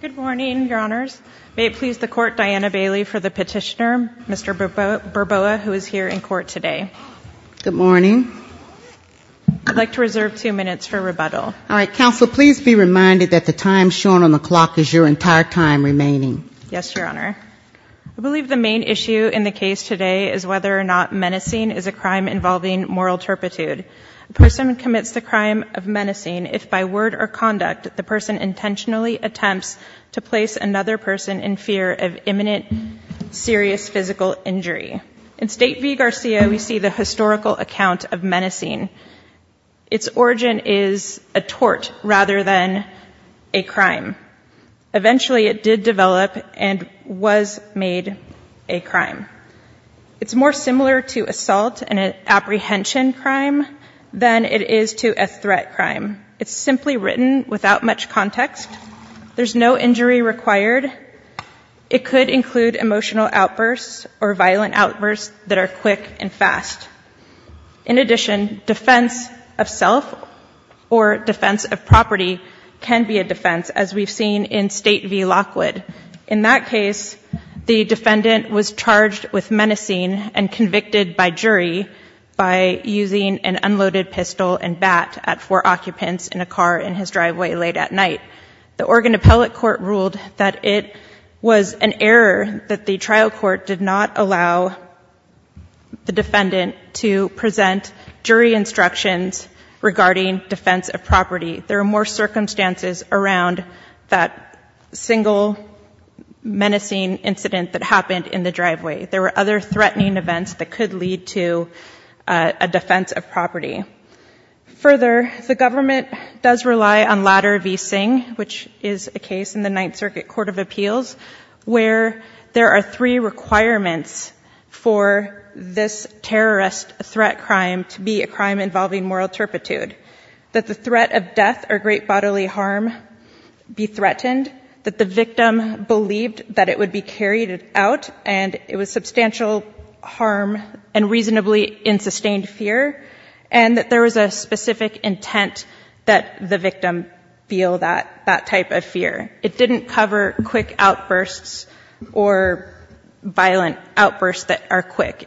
Good morning, Your Honors. May it please the Court, Diana Bailey for the petitioner, Mr. Burboa, who is here in court today. Good morning. I'd like to reserve two minutes for rebuttal. All right, counsel, please be reminded that the time shown on the clock is your entire time remaining. Yes, Your Honor. I believe the main issue in the case today is whether or not menacing is a crime involving moral turpitude. A person commits the crime of menacing if by word or conduct the person intentionally attempts to place another person in fear of imminent serious physical injury. In State v. Garcia, we see the historical account of menacing. Its origin is a tort rather than a crime. Eventually, it did develop and was made a crime. It's more similar to assault and an apprehension crime than it is to a threat crime. It's simply written without much context. There's no injury required. It could include emotional outbursts or violent outbursts that are quick and fast. In addition, defense of self or defense of property can be a defense, as we've seen in State v. Lockwood. In that case, the defendant was shot in the head with an unloaded pistol and bat at four occupants in a car in his driveway late at night. The Oregon Appellate Court ruled that it was an error that the trial court did not allow the defendant to present jury instructions regarding defense of property. There are more circumstances around that single menacing incident that happened in the driveway. There were other threatening events that could lead to a defense of property. Further, the government does rely on Ladder v. Singh, which is a case in the Ninth Circuit Court of Appeals, where there are three requirements for this terrorist threat crime to be a crime involving moral turpitude. That the threat of death or great bodily harm be threatened, that the victim believed that it would be carried out and it was substantial harm and reasonably in sustained fear, and that there was a specific intent that the victim feel that type of fear. It didn't cover quick outbursts or violent outbursts that are quick.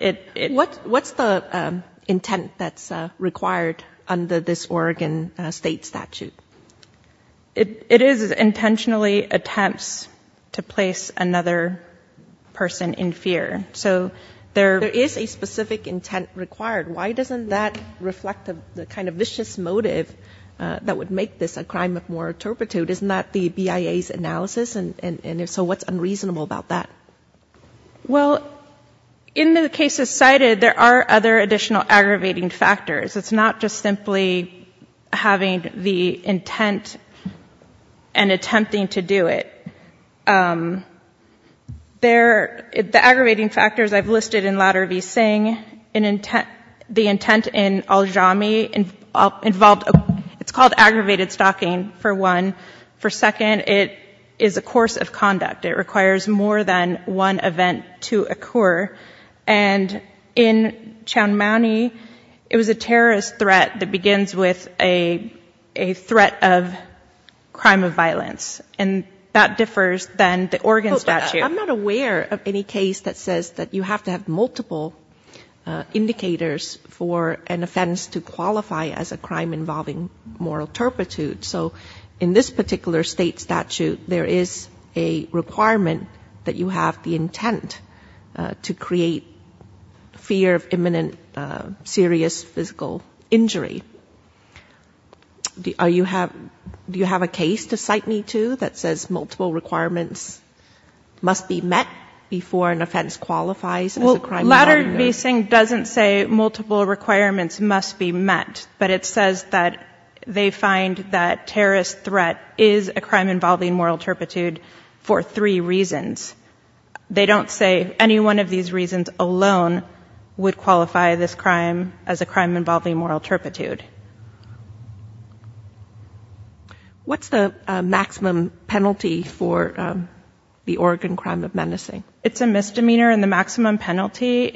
What's the intent that's required under this Oregon State statute? It is intentionally attempts to place another person in fear. So there is a specific intent required. Why doesn't that reflect the kind of vicious motive that would make this a crime of moral turpitude? Isn't that the BIA's analysis? And so what's unreasonable about that? Well, in the cases cited, there are other additional aggravating factors. It's not just simply having the intent and attempting to do it. The aggravating factors I've listed in Lauder v. Singh, the intent in Aljami involved, it's called aggravated stalking for one. For second, it is a course of conduct. It requires more than one event to occur. And in Chowmany, it was a terrorist threat that begins with a threat of crime of violence, and that differs than the Oregon statute. I'm not aware of any case that says that you have to have multiple indicators for an offense to qualify as a crime involving moral turpitude. So in this particular state statute, there is a requirement that you have the intent to create fear of imminent serious physical injury. Do you have a case to cite me to that says multiple requirements must be met before an offense qualifies as a crime involving moral turpitude? Well, Lauder v. Singh doesn't say multiple requirements must be met, but it says that they find that terrorist threat is a crime involving moral turpitude for three reasons. They don't say any one of these reasons alone would qualify this crime as a crime involving moral turpitude. What's the maximum penalty for the Oregon crime of menacing? It's a misdemeanor, and the maximum penalty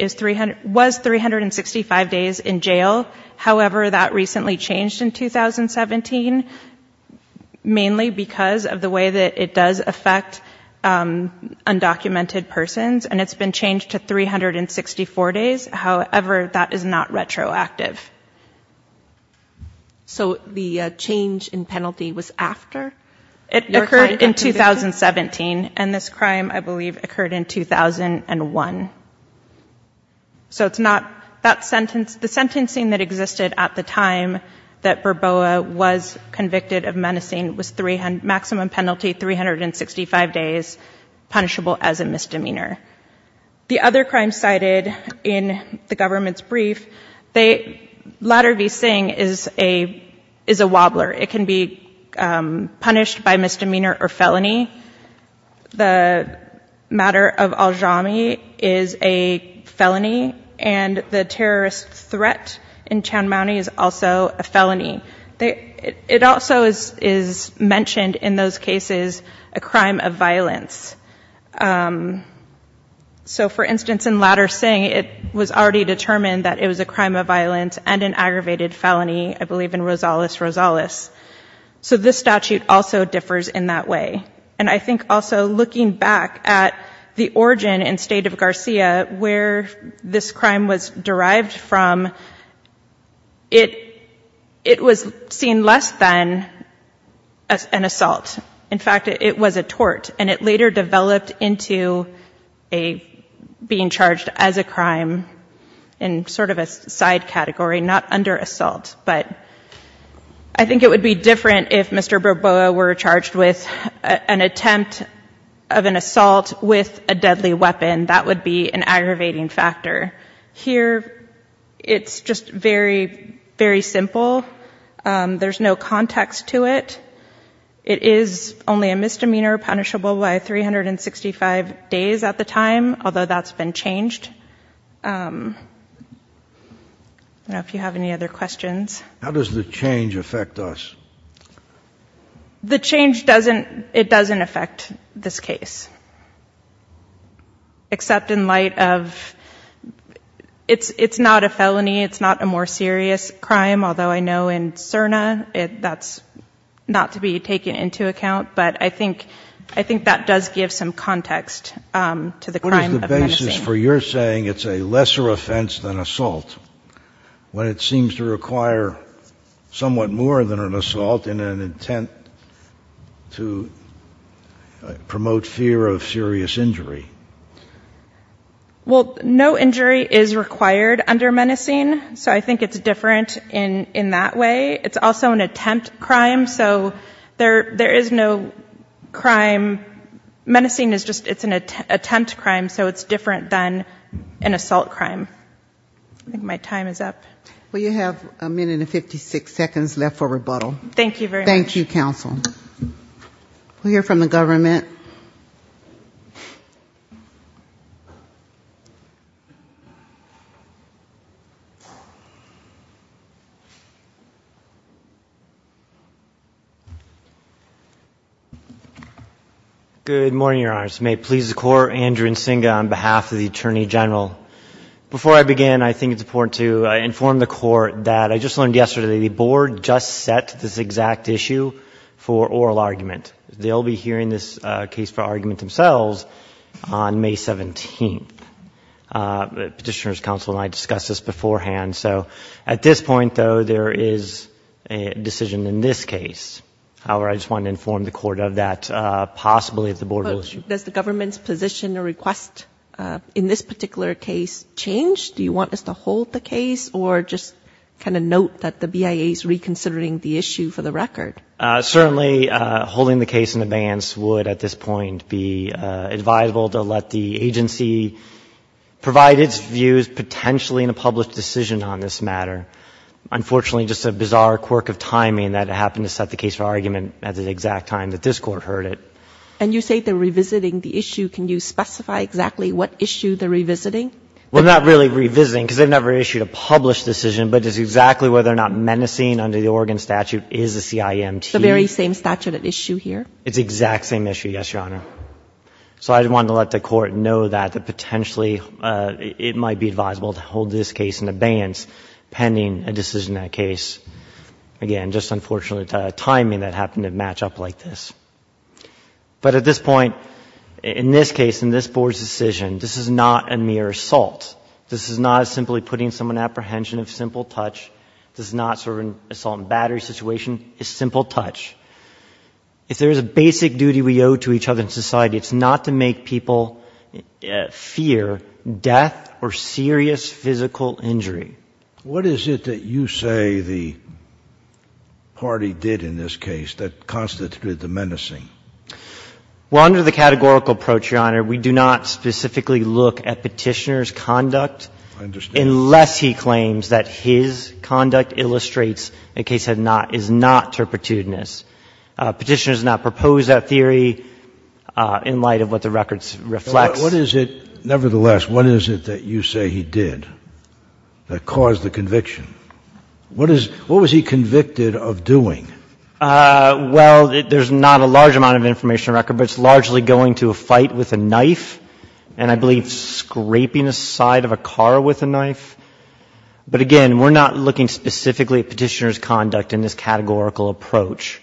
was 365 days in jail. However, that recently changed in 2017, mainly because of the way that it does affect undocumented persons, and it's been changed to 364 days. However, that is not retroactive. So the change in penalty was after? It occurred in 2017, and this crime, I believe, occurred in 2001. So it's not that sentence. The sentencing that existed at the time that Bourbois was convicted of menacing was maximum penalty, 365 days, punishable as a crime. Lauder v. Singh is a wobbler. It can be punished by misdemeanor or felony. The matter of Aljami is a felony, and the terrorist threat in Chowdhury is also a felony. It also is mentioned in those cases a crime of violence. So for instance, in Lauder v. Singh, it was already determined that it was a crime of violence and an aggravated felony, I believe, in Rosales v. Rosales. So this statute also differs in that way. And I think also looking back at the origin and state of Garcia, where this crime was derived from, it was seen less than an assault. In fact, it was a tort, and it later developed into being charged as a crime in sort of a side category, not under assault. But I think it would be different if Mr. Bourbois were charged with an attempt of an assault with a deadly weapon. That would be an aggravating factor. Here, it's just very, very simple. There's no context to it. It is only a misdemeanor, punishable by 365 days at the time, although that's been changed. I don't know if you have any other questions. How does the change affect us? The change doesn't, it doesn't affect this case, except in light of, it's not a felony, it's not a more serious crime, although I know in Cerna, that's not to be taken into account. But I think that does give some context to the crime of menacing. What is the basis for your saying it's a lesser offense than assault, when it seems to require somewhat more than an assault in an intent to promote fear of serious injury? Well, no injury is required under menacing, so I think it's different in that way. It's also an attempt crime, so there is no crime, menacing is just an attempt crime, so it's different than an assault crime. I think my time is up. Well, you have a minute and 56 seconds left for rebuttal. Thank you very much. Thank you, counsel. We'll hear from the government. Good morning, Your Honor. May it please the Court, Andrew Nsinga on behalf of the Attorney General. Before I begin, I think it's important to inform the Court that I just learned yesterday, the Board just set this exact issue for oral argument. They'll be hearing this case for argument themselves on May 17th. Petitioner's counsel and I discussed this beforehand, so at this point, though, there is a decision in this case. However, I just want to inform the Court of that, possibly at the Board will issue. Does the government's position or request in this particular case change? Do you want us to hold the case or just kind of note that the BIA is reconsidering the issue for the record? Certainly, holding the case in advance would, at this point, be advisable to let the agency provide its views, potentially in a published decision on this matter. Unfortunately, just a bizarre quirk of timing that it happened to set the case for argument at the exact time that this Court heard it. And you say they're revisiting the issue. Can you specify exactly what issue they're revisiting? Well, not really revisiting, because they've never issued a published decision, but it's exactly whether or not menacing under the Oregon statute is a CIMT. The very same statute at issue here? It's the exact same issue, yes, Your Honor. So I just wanted to let the Court know that potentially it might be advisable to hold this case in advance, pending a decision in that case. Again, just unfortunate timing that happened to match up like this. But at this point, in this case, in this Board's decision, this is not a mere assault. This is not simply putting someone to apprehension of simple touch. This is not sort of an assault and battery situation. It's simple touch. If there is a basic duty we owe to each other in society, it's not to make people fear death or serious physical injury. What is it that you say the party did in this case that constituted the menacing? Well, under the categorical approach, Your Honor, we do not specifically look at Petitioner's conduct unless he claims that his conduct illustrates a case that is not turpitudinous. Petitioner has not proposed that theory in light of what the record reflects. But what is it, nevertheless, what is it that you say he did that caused the conviction? What was he convicted of doing? Well, there's not a large amount of information in the record, but it's largely going to a fight with a knife, and I believe scraping the side of a car with a knife. But again, we're not looking specifically at Petitioner's conduct in this categorical approach.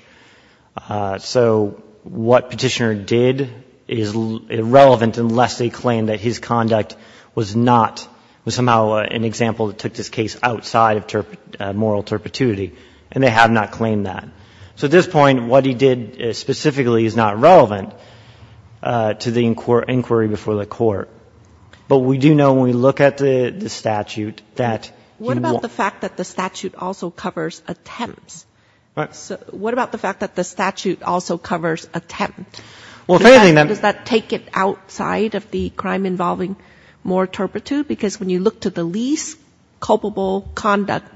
So what Petitioner did is irrelevant unless they claim that his conduct was not, was somehow an example that took this case outside of moral turpituity, and they have not claimed that. So at this point, what he did specifically is not relevant to the inquiry before the Court. But we do know when we look at the statute that he won't. What about the fact that the statute also covers attempts? So what about the fact that the statute also covers attempt? Well, if anything, then — Does that take it outside of the crime involving more turpitude? Because when you look to the least culpable conduct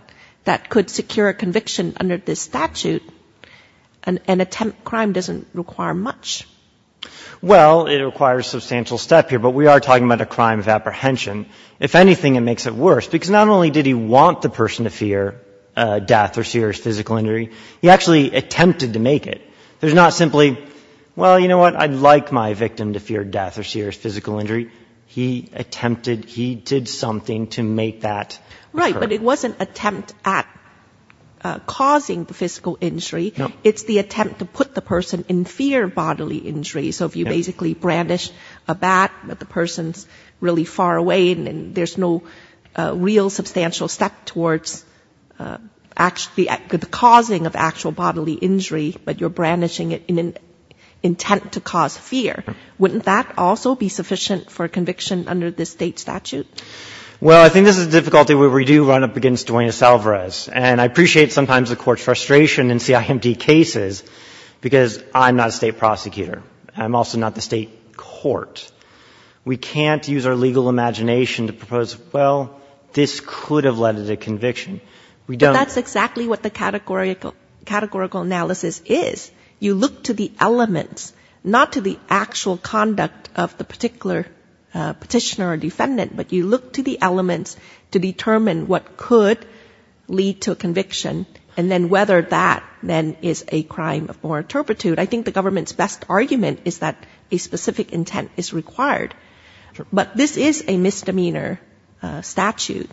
that could secure a conviction under this statute, an attempt crime doesn't require much. Well, it requires substantial step here, but we are talking about a crime of apprehension. If anything, it makes it worse, because not only did he want the person to fear death or serious physical injury, he actually attempted to make it. There's not simply, well, you know what, I'd like my victim to fear death or serious physical injury. He attempted, he did something to make that occur. Right. But it wasn't attempt at causing the physical injury. No. It's the attempt to put the person in fear of bodily injury. So if you basically brandish a bat, but the person's really far away and there's no real substantial step towards actually the causing of actual bodily injury, but you're brandishing it in an intent to cause fear, wouldn't that also be sufficient for conviction under this State statute? Well, I think this is a difficulty where we do run up against Duenas-Alvarez. And I appreciate sometimes the Court's frustration in CIMD cases, because I'm not a State prosecutor. I'm also not the State court. We can't use our legal imagination to propose, well, this could have led to the conviction. But that's exactly what the categorical analysis is. You look to the elements, not to the actual conduct of the particular petitioner or defendant, but you look to the elements to determine what could lead to a conviction, and then whether that then is a crime of more turpitude. I think the government's best argument is that a specific intent is required. But this is a misdemeanor statute,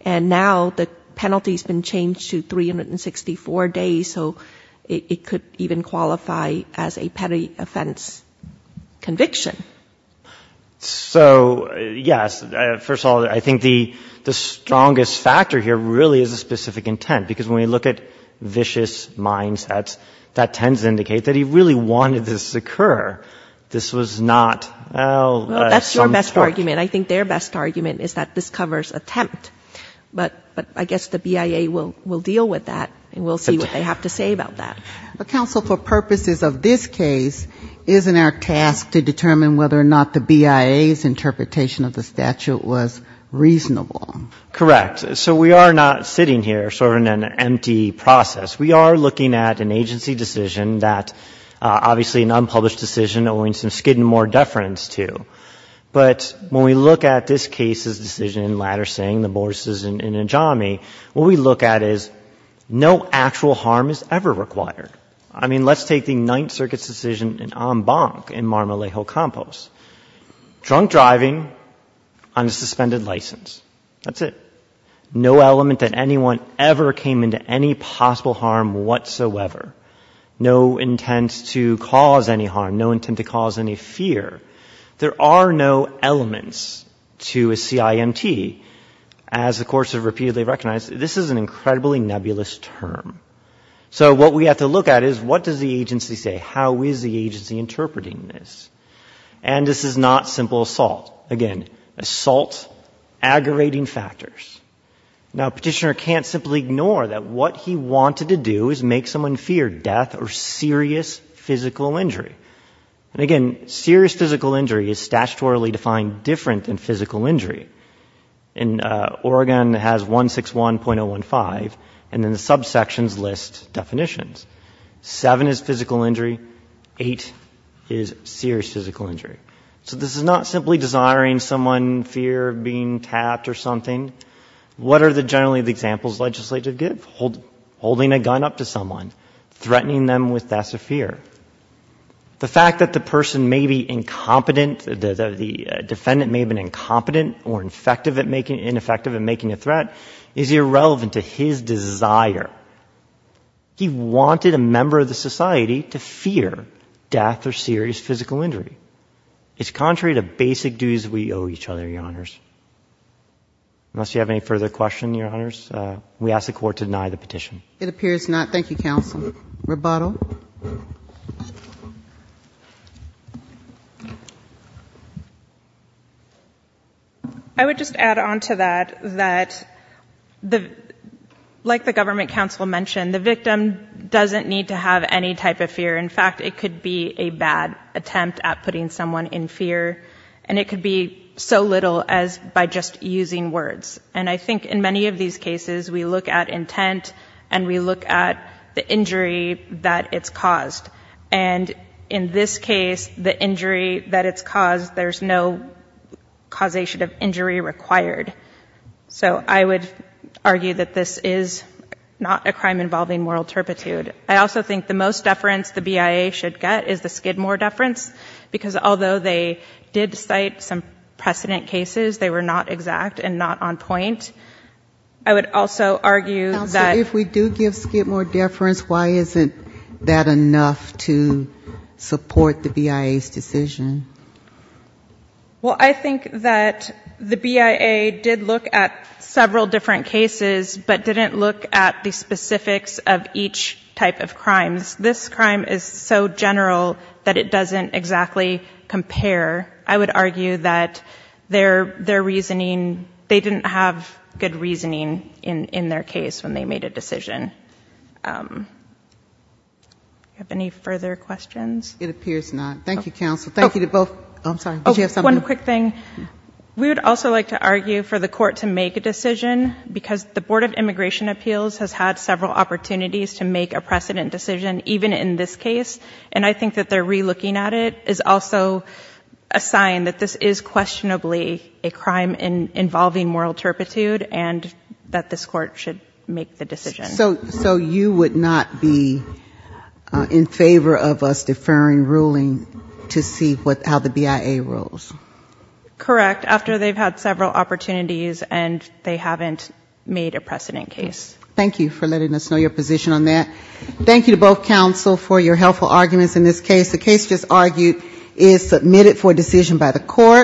and now the penalty's been changed to 364 days, so it could even qualify as a petty offense conviction. So, yes, first of all, I think the strongest factor here really is a specific intent, because when we look at vicious mindsets, that tends to indicate that he really wanted this to occur. This was not, well, some trick. Well, that's your best argument. I think their best argument is that this covers attempt. But I guess the BIA will deal with that, and we'll see what they have to say about that. But, counsel, for purposes of this case, isn't our task to determine whether or not the BIA's interpretation of the statute was reasonable? Correct. So we are not sitting here sort of in an empty process. We are looking at an agency decision that, obviously, an unpublished decision owing some skid and more deference to. But when we look at this case's decision in Latter-Singh, the Borges' in Ajami, what we look at is no actual harm is ever required. I mean, let's take the Ninth Circuit's decision in En Banc in Marmolejo Compost. Drunk driving on a suspended license. That's it. No element that anyone ever came into any possible harm whatsoever. No intent to cause any harm. No intent to cause any fear. There are no elements to a CIMT. As the courts have repeatedly recognized, this is an incredibly nebulous term. So what we have to look at is what does the agency say? How is the agency interpreting this? And this is not simple assault. Again, assault, aggravating factors. Now, Petitioner can't simply ignore that what he wanted to do is make someone fear death or serious physical injury. And again, serious physical injury is statutorily defined different than physical injury. And Oregon has 161.015, and then the subsections list definitions. Seven is physical injury. Eight is serious physical injury. So this is not simply desiring someone fear of being tapped or something. What are generally the examples legislative give? Holding a gun up to someone. Threatening them with death of fear. The fact that the person may be incompetent, the defendant may have been incompetent or ineffective at making a threat is irrelevant to his desire. He wanted a member of the society to fear death or serious physical injury. It's contrary to basic duties we owe each other, Your Honors. Unless you have any further questions, Your Honors, we ask the Court to deny the petition. It appears not. Thank you, Counsel. Rebuttal. I would just add on to that, that like the Government Counsel mentioned, the victim doesn't need to have any type of fear. In fact, it could be a bad attempt at putting someone in fear. And it could be so little as by just using words. And I think in many of these cases, we look at intent and we look at the injury that it's caused. And in this case, the injury that it's caused, there's no causation of injury required. So I would argue that this is not a crime involving moral turpitude. I also think the most deference the BIA should get is the Skidmore deference, because although they did cite some precedent cases, they were not exact and not on point. I would also argue that... Counsel, if we do give Skidmore deference, why isn't that enough to support the BIA's decision? Well, I think that the BIA did look at several different cases, but didn't look at the specifics of each type of crimes. This crime is so general that it doesn't exactly compare. I would argue that their reasoning... They didn't have good reasoning in their case when they made a decision. Do you have any further questions? It appears not. Thank you, Counsel. Thank you to both. I'm sorry. Did you have something? One quick thing. We would also like to argue for the court to make a decision, because the Board of Immigration even in this case, and I think that they're re-looking at it, is also a sign that this is questionably a crime involving moral turpitude, and that this court should make the decision. So you would not be in favor of us deferring ruling to see how the BIA rolls? Correct, after they've had several opportunities and they haven't made a precedent case. Thank you for letting us know your position on that. Thank you to both counsel for your helpful arguments in this case. The case just argued is submitted for decision by the court.